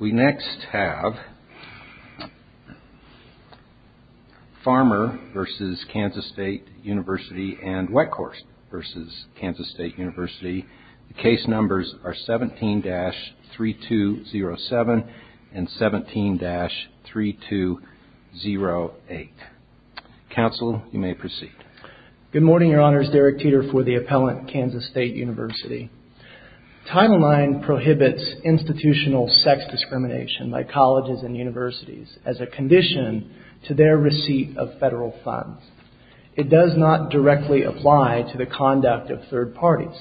We next have Farmer v. Kansas State University and Weckhorst v. Kansas State University. Case numbers are 17-3207 and 17-3208. Counsel, you may proceed. Good morning, Your Honors. Derek Teeter for the appellant, Kansas State University. Title IX prohibits institutional sex discrimination by colleges and universities as a condition to their receipt of federal funds. It does not directly apply to the conduct of third parties.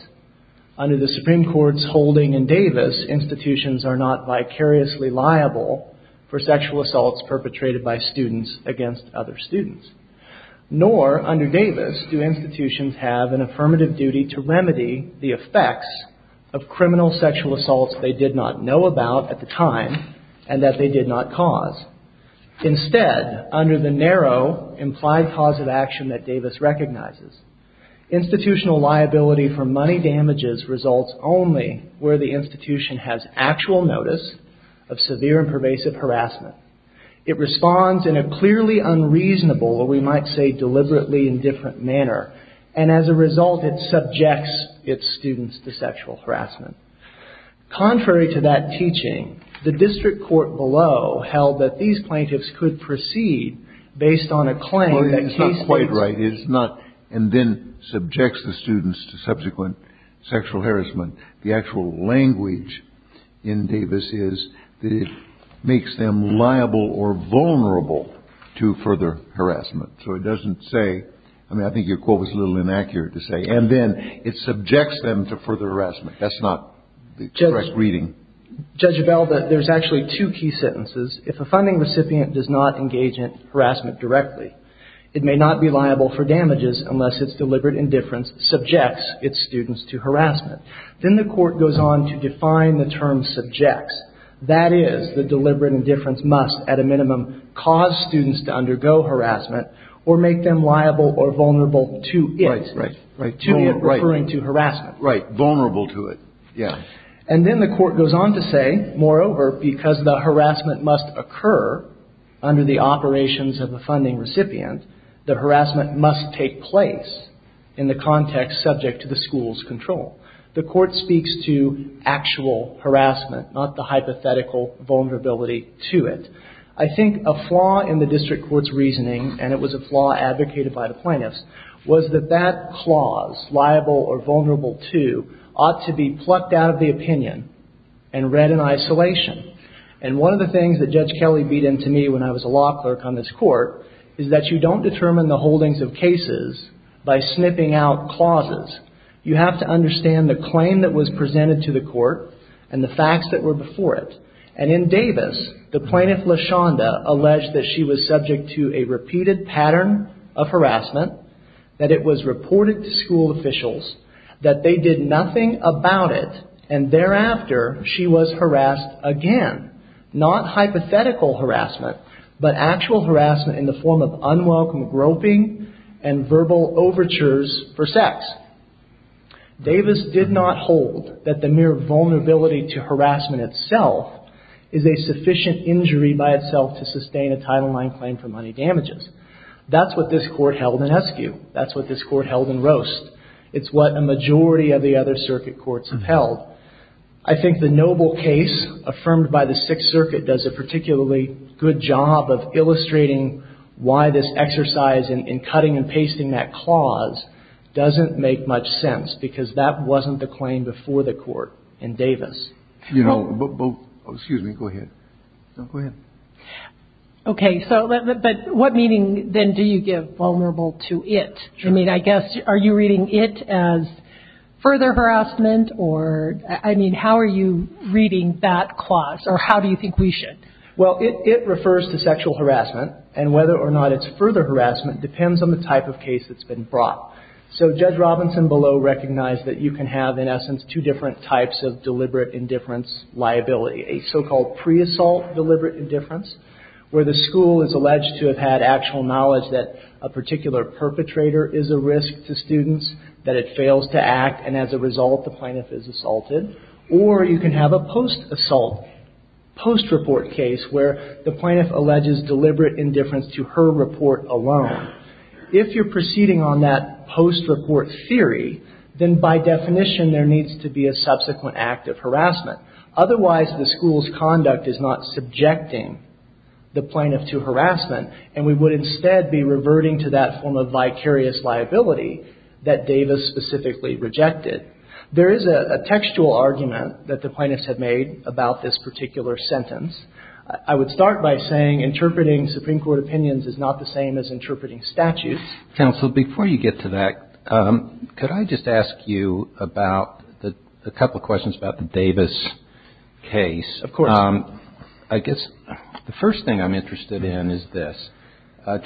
Under the Supreme Court's holding in Davis, institutions are not vicariously liable for sexual assaults perpetrated by students against other students. Nor, under Davis, do institutions have an affirmative duty to remedy the effects of criminal sexual assaults they did not know about at the time and that they did not cause. Instead, under the narrow implied cause of action that Davis recognizes, institutional liability for money damages results only where the institution has actual notice of severe and pervasive harassment. It responds in a clearly unreasonable, or we might say deliberately indifferent manner, and as a result, it subjects its students to sexual harassment. Contrary to that teaching, the district court below held that these plaintiffs could proceed based on a claim that case states and then subjects the students to subsequent sexual harassment. The actual language in Davis is that it makes them liable or vulnerable to further harassment. So it doesn't say, I mean, I think your quote was a little inaccurate to say, and then it subjects them to further harassment. That's not the correct reading. Judge Abell, there's actually two key sentences. If a funding recipient does not engage in harassment directly, it may not be liable for damages unless its deliberate indifference subjects its students to harassment. Then the court goes on to define the term subjects. That is, the deliberate indifference must, at a minimum, cause students to undergo harassment or make them liable or vulnerable to it. Right, right. To it, referring to harassment. Right. Vulnerable to it. Yeah. And then the court goes on to say, moreover, because the harassment must occur under the operations of the funding recipient, the harassment must take place in the context subject to the school's control. The court speaks to actual harassment, not the hypothetical vulnerability to it. I think a flaw in the district court's reasoning, and it was a flaw advocated by the plaintiffs, was that that clause, liable or vulnerable to, ought to be plucked out of the opinion and read in isolation. And one of the things that Judge Kelly beat into me when I was a law clerk on this court is that you don't determine the holdings of cases by snipping out clauses. You have to understand the claim that was presented to the court and the facts that were before it. And in Davis, the plaintiff, LaShonda, alleged that she was subject to a repeated pattern of harassment, that it was reported to school officials, that they did nothing about it, and thereafter she was harassed again. Not hypothetical harassment, but actual harassment in the form of unwelcome groping and verbal overtures for sex. Davis did not hold that the mere vulnerability to harassment itself is a sufficient injury by itself to sustain a Title IX claim for money damages. That's what this court held in Eskew. That's what this court held in Roast. It's what a majority of the other circuit courts have held. I think the Noble case, affirmed by the Sixth Circuit, does a particularly good job of illustrating why this exercise in cutting and pasting that clause doesn't make much sense, because that wasn't the claim before the court in Davis. Excuse me. Go ahead. Go ahead. Okay. So what meaning, then, do you give vulnerable to it? I mean, I guess, are you reading it as further harassment, or, I mean, how are you reading that clause, or how do you think we should? Well, it refers to sexual harassment, and whether or not it's further harassment depends on the type of case that's been brought. So Judge Robinson below recognized that you can have, in essence, two different types of deliberate indifference liability, a so-called pre-assault deliberate indifference, where the school is alleged to have had actual knowledge that a particular perpetrator is a risk to students, that it fails to act, and as a result, the plaintiff is assaulted. Or you can have a post-assault, post-report case, where the plaintiff alleges deliberate indifference to her report alone. If you're proceeding on that post-report theory, then by definition, there needs to be a subsequent act of harassment. Otherwise, the school's conduct is not subjecting the plaintiff to harassment, and we would instead be reverting to that form of vicarious liability that Davis specifically rejected. There is a textual argument that the plaintiffs have made about this particular sentence. I would start by saying interpreting Supreme Court opinions is not the same as interpreting statutes. Counsel, before you get to that, could I just ask you about a couple of questions about the Davis case? Of course. I guess the first thing I'm interested in is this. And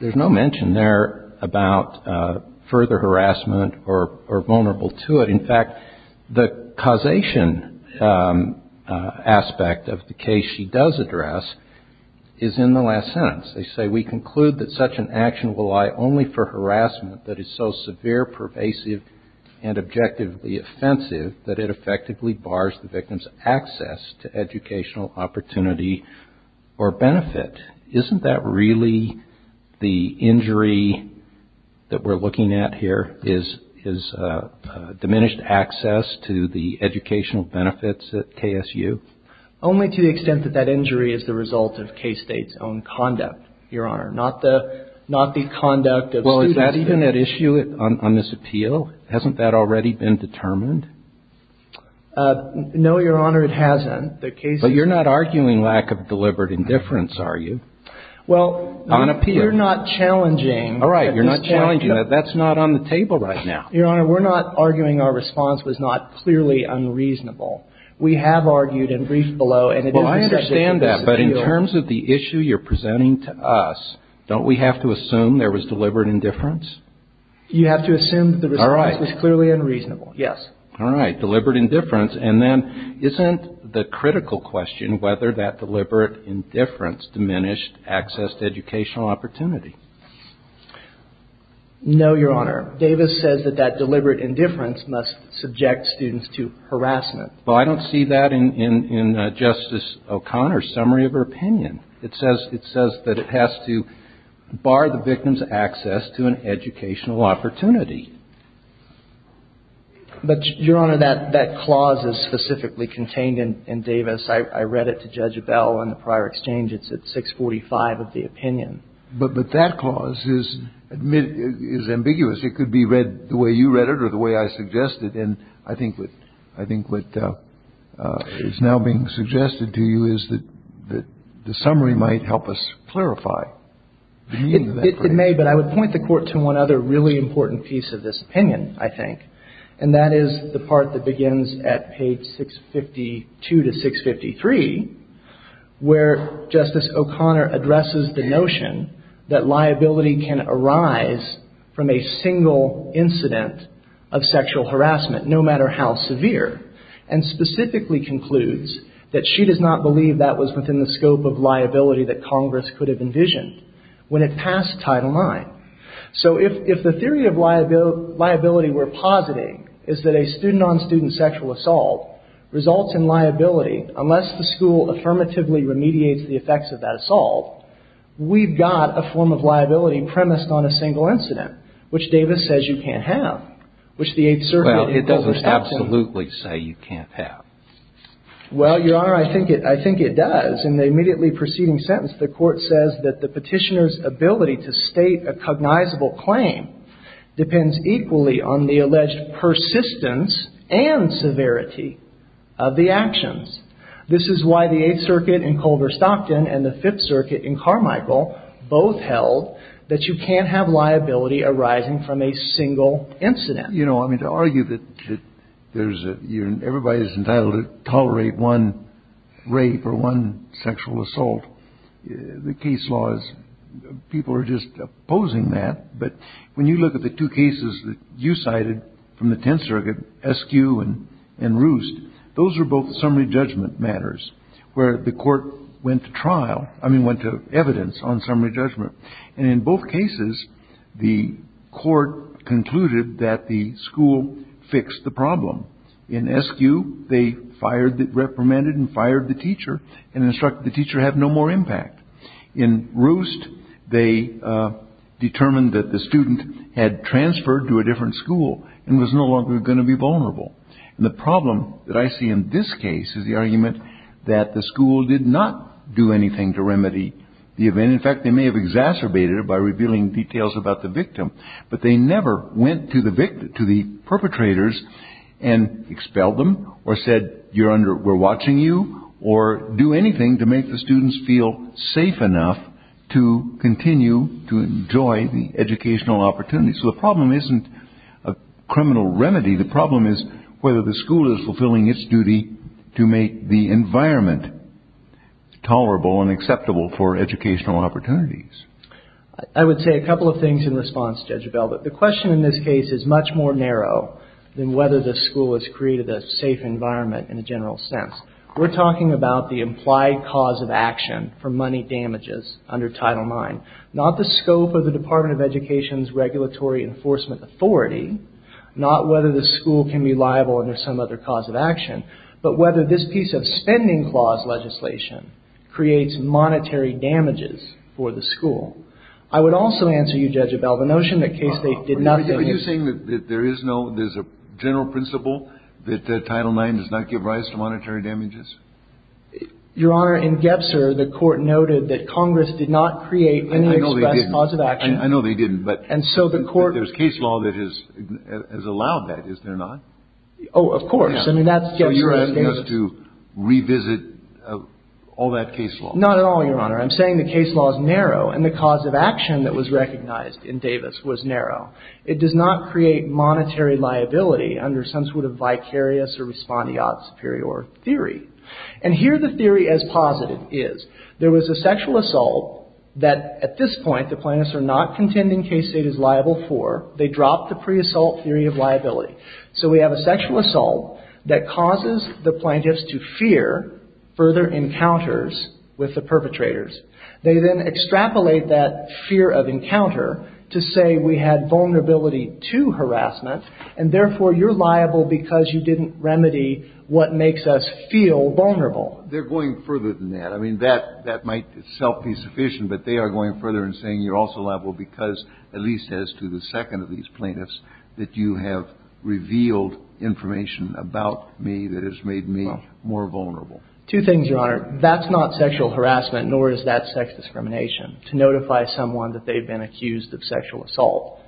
there's no mention there about further harassment or vulnerable to it. In fact, the causation aspect of the case she does address is in the last sentence. They say, Isn't that really the injury that we're looking at here is diminished access to the educational benefits at KSU? Only to the extent that that injury is the result of K-State's own conduct, Your Honor. Well, is that even at issue on this appeal? Hasn't that already been determined? No, Your Honor, it hasn't. But you're not arguing lack of deliberate indifference, are you? Well, you're not challenging. All right. You're not challenging. That's not on the table right now. Your Honor, we're not arguing our response was not clearly unreasonable. We have argued and briefed below. Well, I understand that. But in terms of the issue you're presenting to us, don't we have to assume there was deliberate indifference? You have to assume that the response was clearly unreasonable. Yes. All right. Deliberate indifference. And then isn't the critical question whether that deliberate indifference diminished access to educational opportunity? No, Your Honor. Davis says that that deliberate indifference must subject students to harassment. Well, I don't see that in Justice O'Connor's summary of her opinion. It says that it has to bar the victim's access to an educational opportunity. But, Your Honor, that clause is specifically contained in Davis. I read it to Judge Abell in the prior exchange. It's at 645 of the opinion. But that clause is ambiguous. It could be read the way you read it or the way I suggested. And I think what is now being suggested to you is that the summary might help us clarify. It may. But I would point the Court to one other really important piece of this opinion, I think. And that is the part that begins at page 652 to 653, where Justice O'Connor addresses the notion that liability can arise from a single incident of sexual harassment, no matter how severe. And specifically concludes that she does not believe that was within the scope of liability that Congress could have envisioned when it passed Title IX. So if the theory of liability we're positing is that a student-on-student sexual assault results in liability, unless the school affirmatively remediates the effects of that assault, we've got a form of liability premised on a single incident, which Davis says you can't have, which the Eighth Circuit, it doesn't absolutely say you can't have. Well, Your Honor, I think it does. In the immediately preceding sentence, the Court says that the Petitioner's ability to state a cognizable claim depends equally on the alleged persistence and severity of the actions. This is why the Eighth Circuit in Culver-Stockton and the Fifth Circuit in Carmichael both held that you can't have liability arising from a single incident. You know, I mean, to argue that there's a – everybody's entitled to tolerate one rape or one sexual assault, the case law is – people are just opposing that. But when you look at the two cases that you cited from the Tenth Circuit, Eskew and Roost, those are both summary judgment matters, where the Court went to trial – I mean, went to evidence on summary judgment. And in both cases, the Court concluded that the school fixed the problem. In Eskew, they fired – reprimanded and fired the teacher and instructed the teacher, have no more impact. In Roost, they determined that the student had transferred to a different school and was no longer going to be vulnerable. And the problem that I see in this case is the argument that the school did not do anything to remedy the event. In fact, they may have exacerbated it by revealing details about the victim. But they never went to the perpetrators and expelled them or said, you're under – we're watching you, or do anything to make the students feel safe enough to continue to enjoy the educational opportunities. So the problem isn't a criminal remedy. The problem is whether the school is fulfilling its duty to make the environment tolerable and acceptable for educational opportunities. I would say a couple of things in response, Judge Bell. But the question in this case is much more narrow than whether the school has created a safe environment in a general sense. We're talking about the implied cause of action for money damages under Title IX, not the scope of the Department of Education's regulatory enforcement authority, not whether the school can be liable under some other cause of action, but whether this piece of spending clause legislation creates monetary damages for the school. I would also answer you, Judge Bell, the notion that K-State did nothing – Are you saying that there is no – there's a general principle that Title IX does not give rise to monetary damages? Your Honor, in Gebser, the Court noted that Congress did not create any express cause of action. I know they didn't. I know they didn't, but – And so the Court – There's case law that has allowed that, is there not? Oh, of course. I mean, that's – So you're asking us to revisit all that case law? Not at all, Your Honor. I'm saying the case law is narrow, and the cause of action that was recognized in Davis was narrow. It does not create monetary liability under some sort of vicarious or respondeat superior theory. And here the theory as posited is, there was a sexual assault that, at this point, the plaintiffs are not contending K-State is liable for. They dropped the pre-assault theory of liability. So we have a sexual assault that causes the plaintiffs to fear further encounters with the perpetrators. They then extrapolate that fear of encounter to say we had vulnerability to harassment, and therefore you're liable because you didn't remedy what makes us feel vulnerable. They're going further than that. I mean, that might itself be sufficient, but they are going further in saying you're also liable because, at least as to the second of these plaintiffs, that you have revealed information about me that has made me more vulnerable. Two things, Your Honor. That's not sexual harassment, nor is that sex discrimination, to notify someone that they've been accused of sexual assault.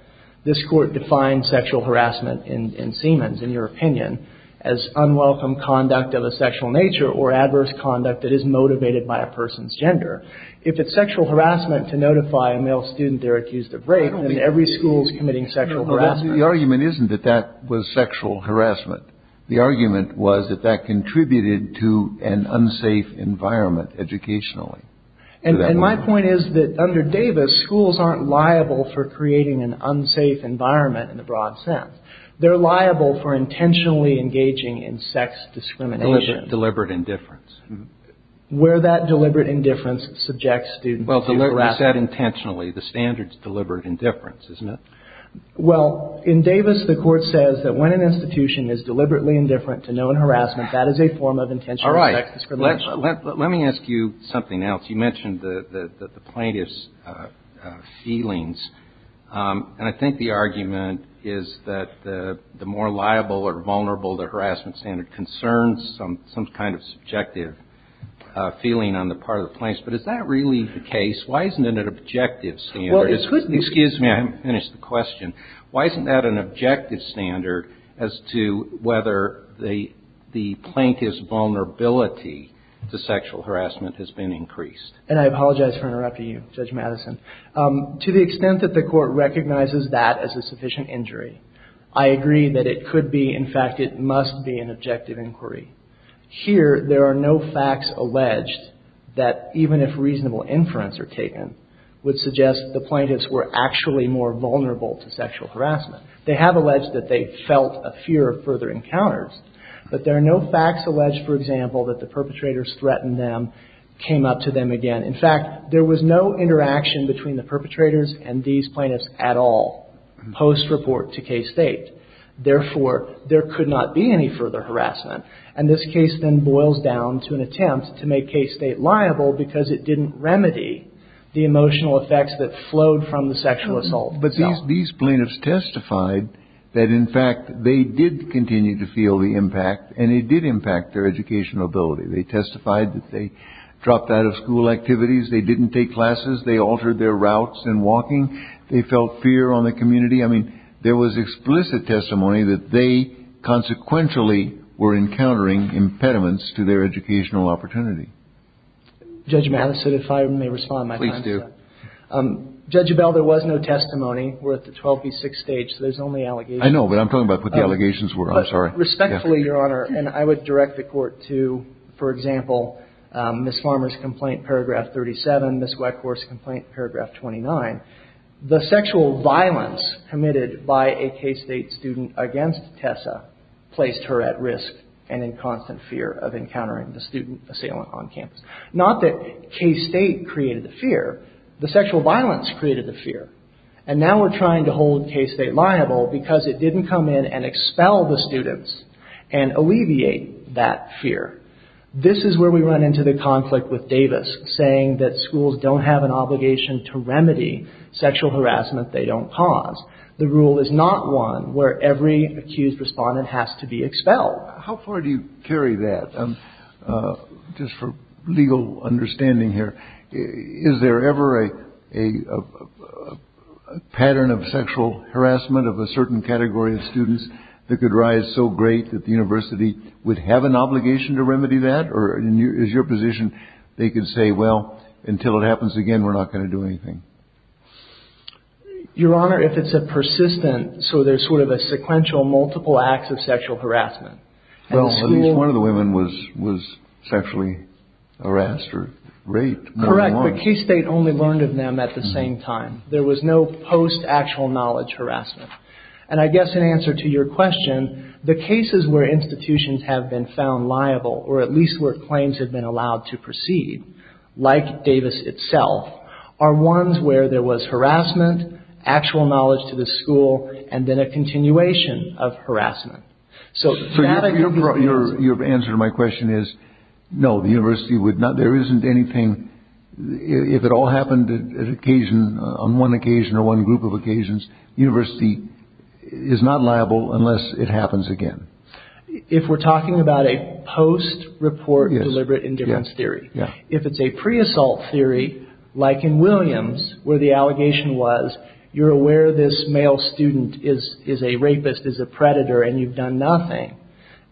This Court defines sexual harassment in Siemens, in your opinion, as unwelcome conduct of a sexual nature or adverse conduct that is motivated by a person's gender. If it's sexual harassment to notify a male student they're accused of rape, then every school is committing sexual harassment. The argument isn't that that was sexual harassment. The argument was that that contributed to an unsafe environment educationally. And my point is that under Davis, schools aren't liable for creating an unsafe environment in the broad sense. They're liable for intentionally engaging in sex discrimination. Deliberate indifference. Where that deliberate indifference subjects students to harassment. Well, you said intentionally. The standard's deliberate indifference, isn't it? Well, in Davis, the Court says that when an institution is deliberately indifferent to known harassment, that is a form of intentional sex discrimination. All right. Let me ask you something else. You mentioned the plaintiff's feelings, and I think the argument is that the more liable or vulnerable the harassment standard concerns some kind of subjective feeling on the part of the plaintiffs. But is that really the case? Why isn't it an objective standard? Well, it could be. Excuse me. I haven't finished the question. Why isn't that an objective standard as to whether the plaintiff's vulnerability to sexual harassment has been increased? And I apologize for interrupting you, Judge Madison. To the extent that the Court recognizes that as a sufficient injury, I agree that it could be. In fact, it must be an objective inquiry. Here, there are no facts alleged that, even if reasonable inference are taken, would suggest the plaintiffs were actually more vulnerable to sexual harassment. They have alleged that they felt a fear of further encounters. But there are no facts alleged, for example, that the perpetrators threatened them, came up to them again. In fact, there was no interaction between the perpetrators and these plaintiffs at all post-report to case date. Therefore, there could not be any further harassment. And this case then boils down to an attempt to make case date liable because it didn't remedy the emotional effects that flowed from the sexual assault. But these plaintiffs testified that, in fact, they did continue to feel the impact, and it did impact their educational ability. They testified that they dropped out of school activities. They didn't take classes. They altered their routes and walking. They felt fear on the community. I mean, there was explicit testimony that they, consequentially, were encountering impediments to their educational opportunity. Judge Mattis, if I may respond, my time is up. Please do. Judge Abell, there was no testimony. We're at the 12 v. 6 stage, so there's only allegations. I know, but I'm talking about what the allegations were. I'm sorry. Respectfully, Your Honor, and I would direct the Court to, for example, Ms. Farmer's complaint, paragraph 37, Ms. Weckhorst's complaint, paragraph 29. The sexual violence committed by a K-State student against Tessa placed her at risk and in constant fear of encountering the student assailant on campus. Not that K-State created the fear. The sexual violence created the fear, and now we're trying to hold K-State liable because it didn't come in and expel the students and alleviate that fear. This is where we run into the conflict with Davis, saying that schools don't have an obligation to remedy sexual harassment they don't cause. The rule is not one where every accused respondent has to be expelled. How far do you carry that? Just for legal understanding here, is there ever a pattern of sexual harassment of a certain category of students that could rise so great that the university would have an obligation to remedy that? Or is your position they could say, well, until it happens again, we're not going to do anything? Your Honor, if it's a persistent, so there's sort of a sequential, multiple acts of sexual harassment. Well, at least one of the women was sexually harassed or raped. Correct, but K-State only learned of them at the same time. There was no post-actual knowledge harassment. And I guess in answer to your question, the cases where institutions have been found liable, or at least where claims have been allowed to proceed, like Davis itself, are ones where there was harassment, actual knowledge to the school, and then a continuation of harassment. So your answer to my question is, no, the university would not, there isn't anything, if it all happened at occasion, on one occasion or one group of occasions, the university is not liable unless it happens again. If we're talking about a post-report deliberate indifference theory, if it's a pre-assault theory, like in Williams, where the allegation was, you're aware this male student is a rapist, is a predator, and you've done nothing,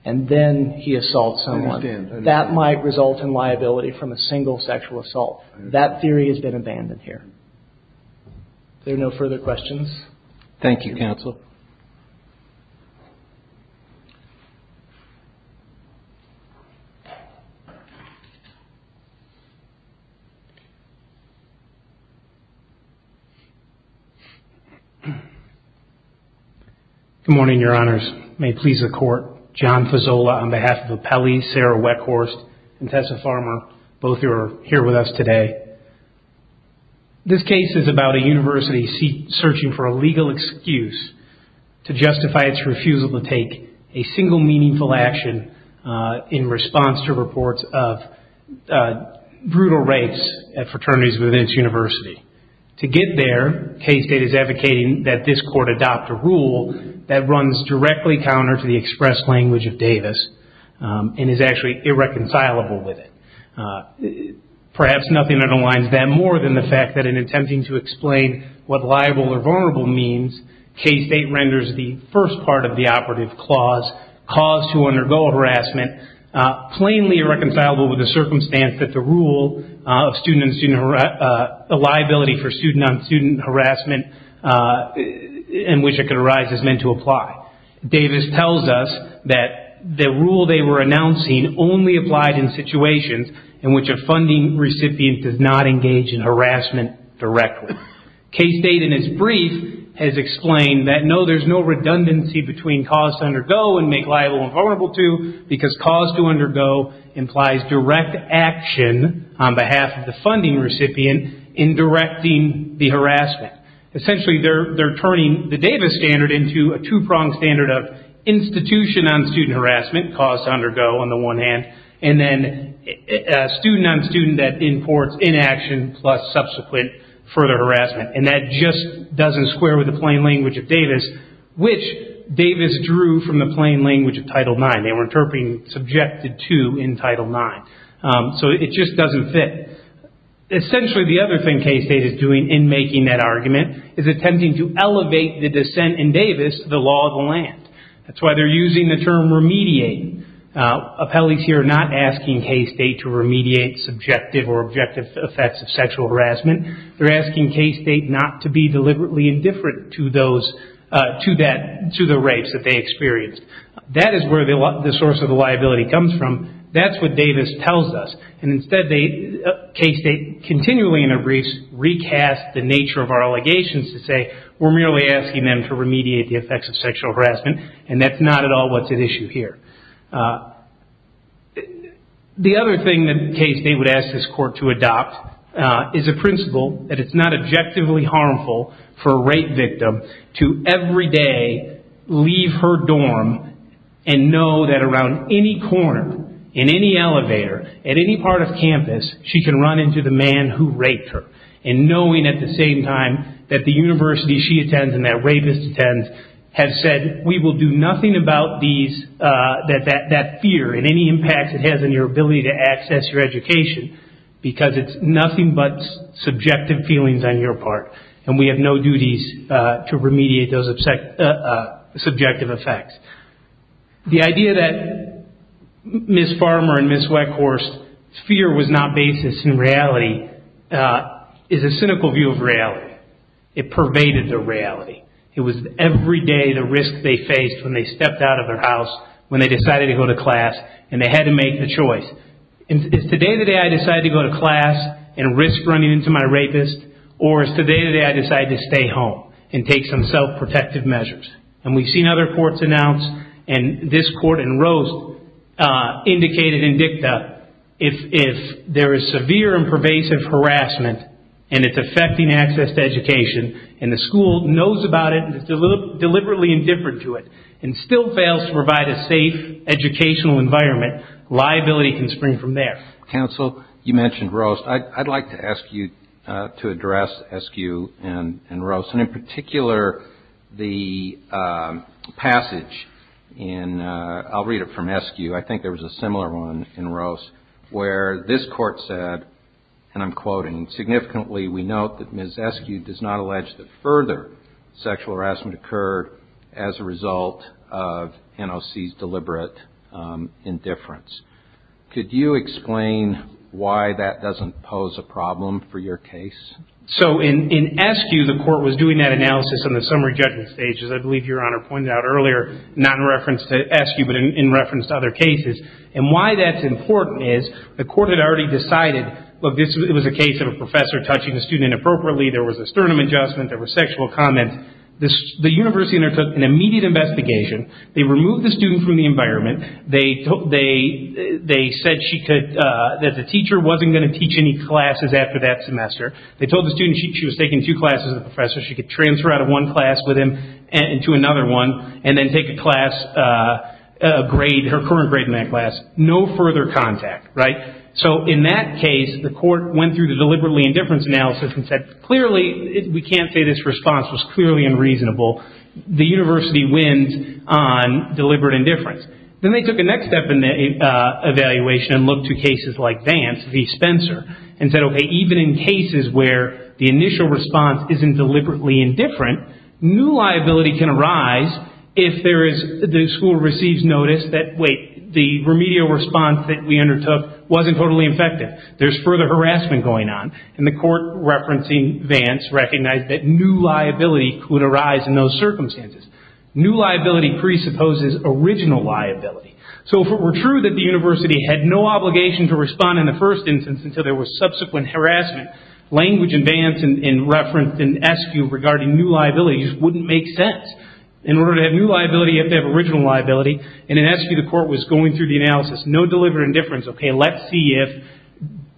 and then he assaults someone, that might result in liability from a single sexual assault. That theory has been abandoned here. Are there no further questions? Thank you, counsel. Good morning, your honors. May it please the court. John Fazola on behalf of Appelli, Sarah Weckhorst, and Tessa Farmer, both who are here with us today. This case is about a university searching for a legal excuse to justify its refusal to take a single meaningful action in response to reports of brutal rapes at fraternities within its university. To get there, K-State is advocating that this court adopt a rule that runs directly counter to the express language of Davis, and is actually irreconcilable with it. Perhaps nothing that aligns them more than the fact that in attempting to explain what liable or vulnerable means, K-State renders the first part of the operative clause, cause to undergo harassment, plainly irreconcilable with the circumstance that the rule of liability for student-on-student harassment in which it can arise is meant to apply. Davis tells us that the rule they were announcing only applied in situations in which a funding recipient does not engage in harassment directly. K-State in its brief has explained that no, there's no redundancy between cause to undergo and make liable and vulnerable to, because cause to undergo implies direct action on behalf of the funding recipient in directing the harassment. Essentially, they're turning the Davis standard into a two-pronged standard of institution-on-student harassment, cause to undergo on the one hand, and then student-on-student that imports inaction plus subsequent further harassment. That just doesn't square with the plain language of Davis, which Davis drew from the plain language of Title IX. They were interpreting subjected to in Title IX. It just doesn't fit. Essentially, the other thing K-State is doing in making that argument is attempting to elevate the dissent in Davis to the law of the land. That's why they're using the term remediate. Appellees here are not asking K-State to remediate subjective or objective effects of sexual harassment. They're asking K-State not to be deliberately indifferent to the rapes that they experienced. That is where the source of the liability comes from. That's what Davis tells us. Instead, K-State continually, in their briefs, recasts the nature of our allegations to say, we're merely asking them to remediate the effects of sexual harassment, and that's not at all what's at issue here. The other thing that K-State would ask this court to adopt is a principle that it's not objectively harmful for a rape victim to, every day, leave her dorm and know that around any corner, in any elevator, at any part of campus, she can run into the man who raped her. Knowing at the same time that the university she attends and that rapist attends has said, we will do nothing about that fear and any impact it has on your ability to access your education, because it's nothing but subjective feelings on your part. We have no duties to remediate those subjective effects. The idea that Ms. Farmer and Ms. Weckhorst's fear was not basis in reality is a cynical view of reality. It pervaded their reality. It was, every day, the risk they faced when they stepped out of their house, when they decided to go to class, and they had to make a choice. Is today the day I decide to go to class and risk running into my rapist? Or is today the day I decide to stay home and take some self-protective measures? And we've seen other courts announce, and this court in Roast indicated in DICTA, if there is severe and pervasive harassment and it's affecting access to education and the school knows about it and is deliberately indifferent to it and still fails to provide a safe educational environment, liability can spring from there. Counsel, you mentioned Roast. I'd like to ask you to address Eskew and Roast, and in particular the passage in, I'll read it from Eskew. I think there was a similar one in Roast where this court said, and I'm quoting, significantly we note that Ms. Eskew does not allege that further sexual harassment occurred as a result of NOC's deliberate indifference. Could you explain why that doesn't pose a problem for your case? So in Eskew, the court was doing that analysis in the summary judgment stage, as I believe Your Honor pointed out earlier, not in reference to Eskew, but in reference to other cases. And why that's important is the court had already decided, look, it was a case of a professor touching a student inappropriately. There was a sternum adjustment. There was sexual comment. The university undertook an immediate investigation. They removed the student from the environment. They said she could, that the teacher wasn't going to teach any classes after that semester. They told the student she was taking two classes as a professor. She could transfer out of one class with him into another one, and then take a class grade, her current grade in that class. No further contact, right? So in that case, the court went through the deliberately indifference analysis and said, clearly, we can't say this response was clearly unreasonable. The university wins on deliberate indifference. Then they took the next step in the evaluation and looked to cases like Vance v. Spencer and said, okay, even in cases where the initial response isn't deliberately indifferent, new liability can arise if the school receives notice that, wait, the remedial response that we undertook wasn't totally effective. There's further harassment going on. And the court referencing Vance recognized that new liability could arise in those circumstances. New liability presupposes original liability. So if it were true that the university had no obligation to respond in the first instance until there was subsequent harassment, language in Vance and referenced in Eskew regarding new liabilities wouldn't make sense. In order to have new liability, you have to have original liability. And in Eskew, the court was going through the analysis, no deliberate indifference. Okay, let's see if,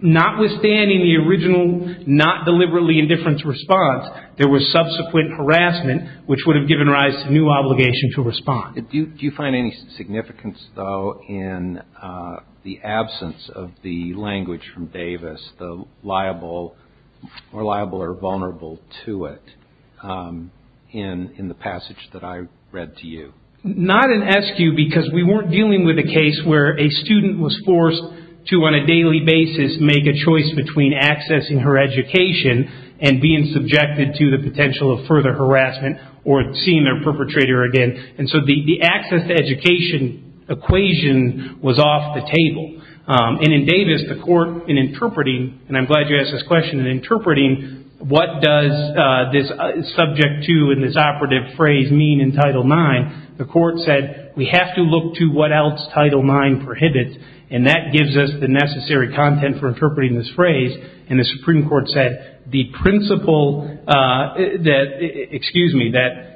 notwithstanding the original not deliberately indifference response, there was subsequent harassment which would have given rise to new obligation to respond. Do you find any significance, though, in the absence of the language from Davis, the liable or vulnerable to it in the passage that I read to you? Not in Eskew because we weren't dealing with a case where a student was forced to, on a daily basis, make a choice between accessing her education and being subjected to the potential of further harassment or seeing their perpetrator again. And so the access to education equation was off the table. And in Davis, the court, in interpreting, and I'm glad you asked this question, in interpreting what does this subject to in this operative phrase mean in Title IX, the court said we have to look to what else Title IX prohibits, and that gives us the necessary content for interpreting this phrase. And the Supreme Court said the principle that, excuse me, that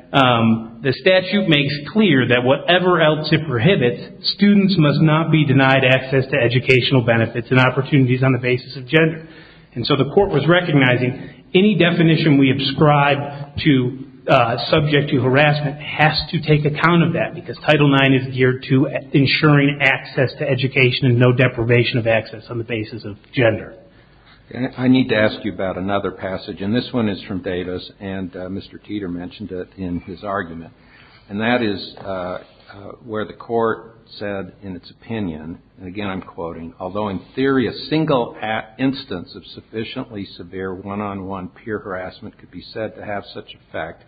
the statute makes clear that whatever else it prohibits, students must not be denied access to educational benefits and opportunities on the basis of gender. And so the court was recognizing any definition we ascribe to subject to harassment has to take account of that because Title IX is geared to ensuring access to education and no deprivation of access on the basis of gender. I need to ask you about another passage, and this one is from Davis, and Mr. Teeter mentioned it in his argument. And that is where the court said in its opinion, and again I'm quoting, although in theory a single instance of sufficiently severe one-on-one peer harassment could be said to have such effect,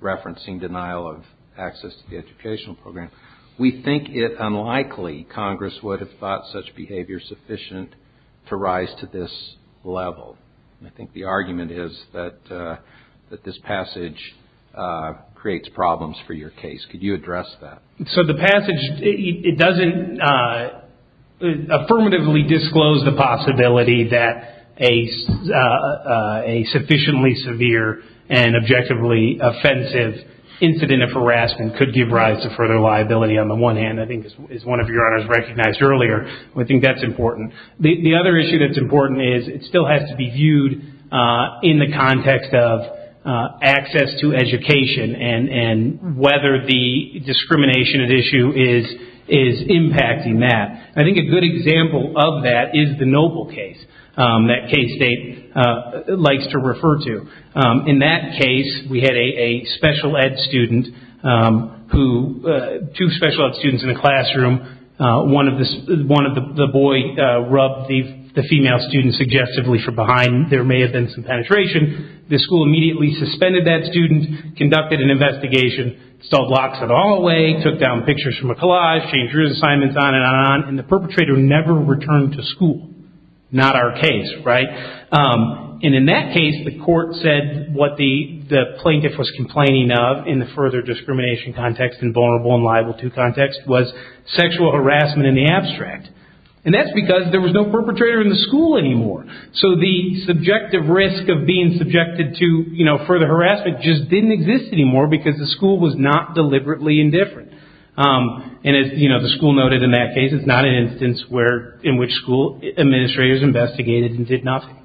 referencing denial of access to the educational program, we think it unlikely Congress would have thought such behavior sufficient to rise to this level. I think the argument is that this passage creates problems for your case. Could you address that? So the passage, it doesn't affirmatively disclose the possibility that a sufficiently severe and objectively offensive incident of harassment could give rise to further liability on the one hand. I think as one of your honors recognized earlier, we think that's important. The other issue that's important is it still has to be viewed in the context of access to education and whether the discrimination at issue is impacting that. I think a good example of that is the Noble case, that Kay State likes to refer to. In that case, we had a special ed student, two special ed students in a classroom. One of the boys rubbed the female student suggestively from behind. There may have been some penetration. The school immediately suspended that student, conducted an investigation, stole blocks of hallway, took down pictures from a collage, changed his assignments, on and on. The perpetrator never returned to school. Not our case, right? In that case, the court said what the plaintiff was complaining of in the further discrimination context and vulnerable and liable to context was sexual harassment in the abstract. That's because there was no perpetrator in the school anymore. The subjective risk of being subjected to further harassment just didn't exist anymore because the school was not deliberately indifferent. As the school noted in that case, it's not an instance in which school administrators investigated and did nothing.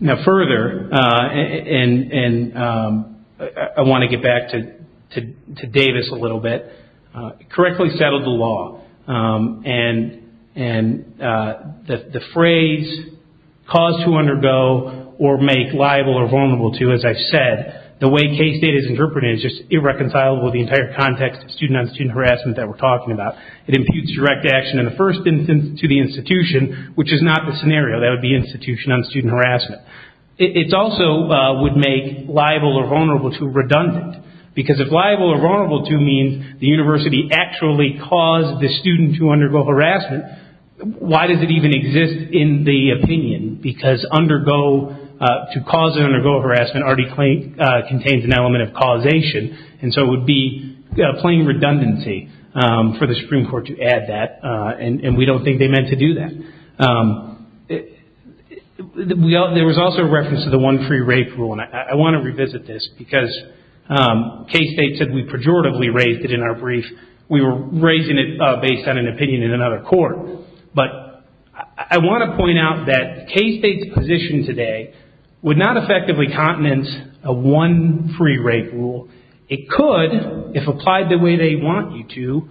Further, I want to get back to Davis a little bit. It correctly settled the law. The phrase, cause to undergo or make liable or vulnerable to, as I said, the way case data is interpreted is just irreconcilable with the entire context of student-on-student harassment that we're talking about. It imputes direct action in the first instance to the institution, which is not the scenario. That would be institution-on-student harassment. It also would make liable or vulnerable to redundant because if liable or vulnerable to means the university actually caused the student to undergo harassment, why does it even exist in the opinion? Because to cause or undergo harassment already contains an element of causation, and so it would be plain redundancy for the Supreme Court to add that, and we don't think they meant to do that. There was also a reference to the one free rape rule, and I want to revisit this because K-State said we pejoratively raised it in our brief. We were raising it based on an opinion in another court, but I want to point out that K-State's position today would not effectively continent a one free rape rule. It could, if applied the way they want you to,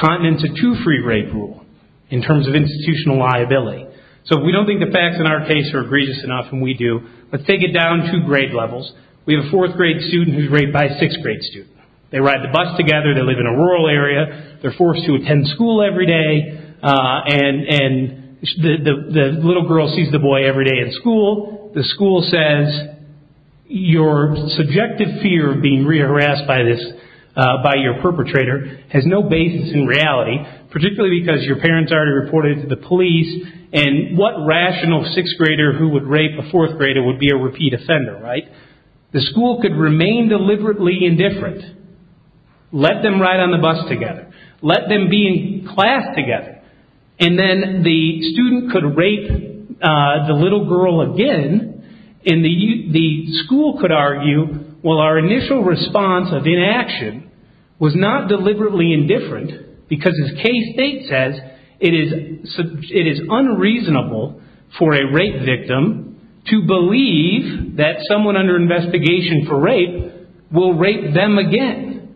continent a two free rape rule in terms of institutional liability. So we don't think the facts in our case are egregious enough, and we do, but take it down to grade levels. We have a fourth grade student who's raped by a sixth grade student. They ride the bus together, they live in a rural area, they're forced to attend school every day, and the little girl sees the boy every day in school. The school says your subjective fear of being harassed by your perpetrator has no basis in reality, particularly because your parents already reported it to the police, and what rational sixth grader who would rape a fourth grader would be a repeat offender, right? The school could remain deliberately indifferent, let them ride on the bus together, let them be in class together, and then the student could rape the little girl again, and the school could argue, well, our initial response of inaction was not deliberately indifferent because as K-State says, it is unreasonable for a rape victim to believe that someone under investigation for rape will rape them again.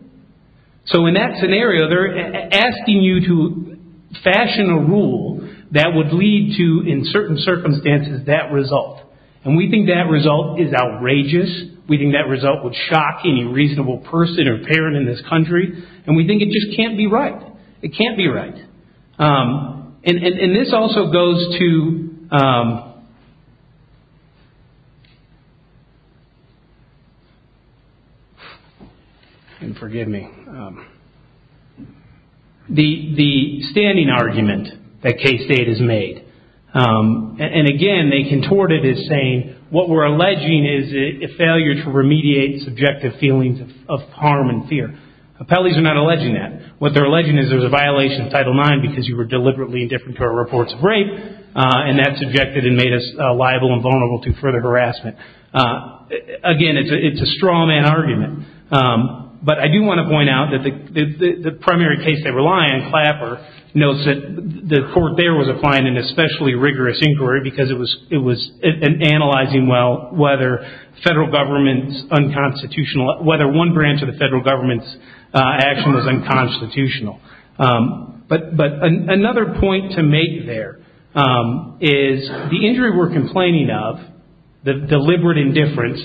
So in that scenario, they're asking you to fashion a rule that would lead to, in certain circumstances, that result, and we think that result is outrageous. We think that result would shock any reasonable person or parent in this country, and we think it just can't be right. It can't be right. And this also goes to the standing argument that K-State has made, and again, they contort it as saying what we're alleging is a failure to remediate subjective feelings of harm and fear. Appellees are not alleging that. What they're alleging is there's a violation of Title IX because you were deliberately indifferent to our reports of rape, and that's objected and made us liable and vulnerable to further harassment. Again, it's a straw man argument. But I do want to point out that the primary case they rely on, Clapper, notes that the court there was applying an especially rigorous inquiry because it was analyzing well whether one branch of the federal government's action was unconstitutional. But another point to make there is the injury we're complaining of, the deliberate indifference,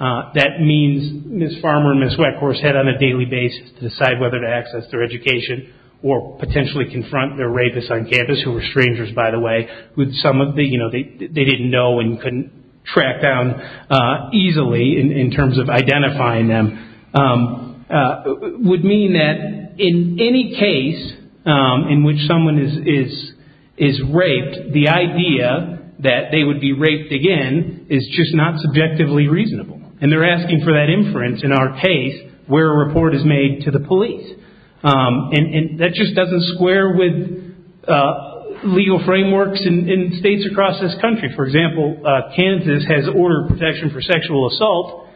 that means Ms. Farmer and Ms. Weckhorst had on a daily basis to decide whether to access their education or potentially confront their rapists on campus who were strangers, by the way, they didn't know and couldn't track down easily in terms of identifying them, would mean that in any case in which someone is raped, the idea that they would be raped again is just not subjectively reasonable. And they're asking for that inference in our case where a report is made to the police. And that just doesn't square with legal frameworks in states across this country. For example, Kansas has ordered protection for sexual assault,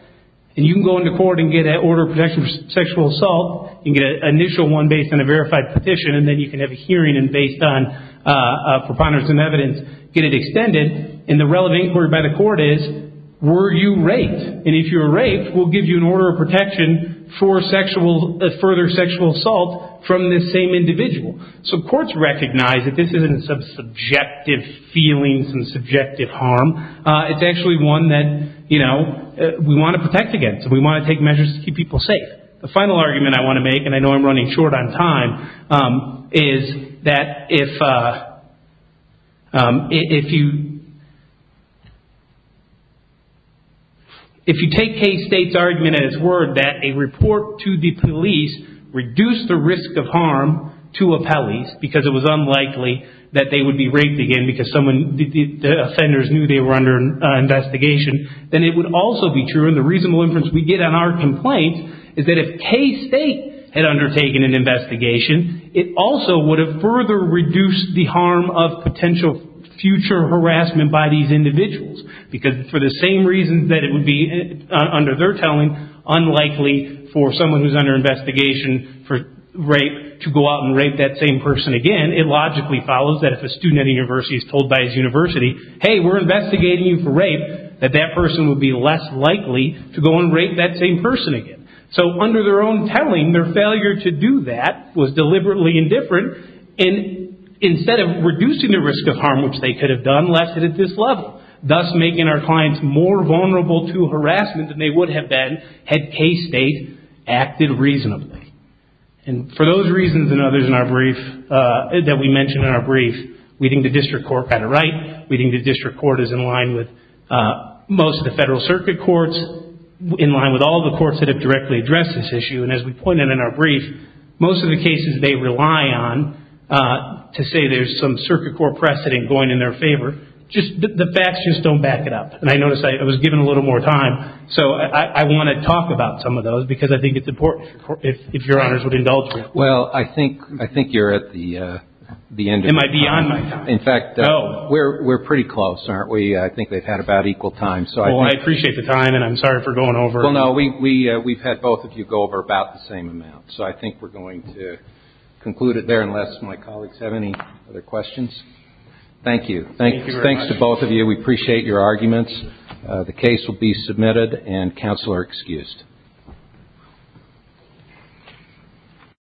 and you can go into court and get an order of protection for sexual assault, you can get an initial one based on a verified petition, and then you can have a hearing and based on preponderance of evidence get it extended, and the relevant inquiry by the court is, were you raped? And if you were raped, we'll give you an order of protection for further sexual assault from this same individual. So courts recognize that this isn't some subjective feelings and subjective harm, it's actually one that, you know, we want to protect against, and we want to take measures to keep people safe. The final argument I want to make, and I know I'm running short on time, is that if you take K-State's argument at its word that a report to the police reduced the risk of harm to appellees, because it was unlikely that they would be raped again because the offenders knew they were under investigation, then it would also be true, and the reasonable inference we get on our complaint is that if K-State had undertaken an investigation, it also would have further reduced the harm of potential future harassment by these individuals, because for the same reasons that it would be, under their telling, unlikely for someone who's under investigation for rape to go out and rape that same person again, it logically follows that if a student at a university is told by his university, hey, we're investigating you for rape, that that person would be less likely to go and rape that same person again. So under their own telling, their failure to do that was deliberately indifferent, and instead of reducing the risk of harm, which they could have done, left it at this level, thus making our clients more vulnerable to harassment than they would have been had K-State acted reasonably. And for those reasons that we mentioned in our brief, we think the district court had it right, we think the district court is in line with most of the federal circuit courts, in line with all the courts that have directly addressed this issue, and as we pointed in our brief, most of the cases they rely on to say there's some circuit court precedent going in their favor, the facts just don't back it up. And I noticed I was given a little more time, so I want to talk about some of those, because I think it's important, if Your Honors would indulge me. Well, I think you're at the end of your time. Am I beyond my time? In fact, we're pretty close, aren't we? I think they've had about equal time. Well, I appreciate the time, and I'm sorry for going over. Well, no, we've had both of you go over about the same amount, so I think we're going to conclude it there unless my colleagues have any other questions. Thank you. Thank you very much. Thanks to both of you. We appreciate your arguments. The case will be submitted, and counsel are excused.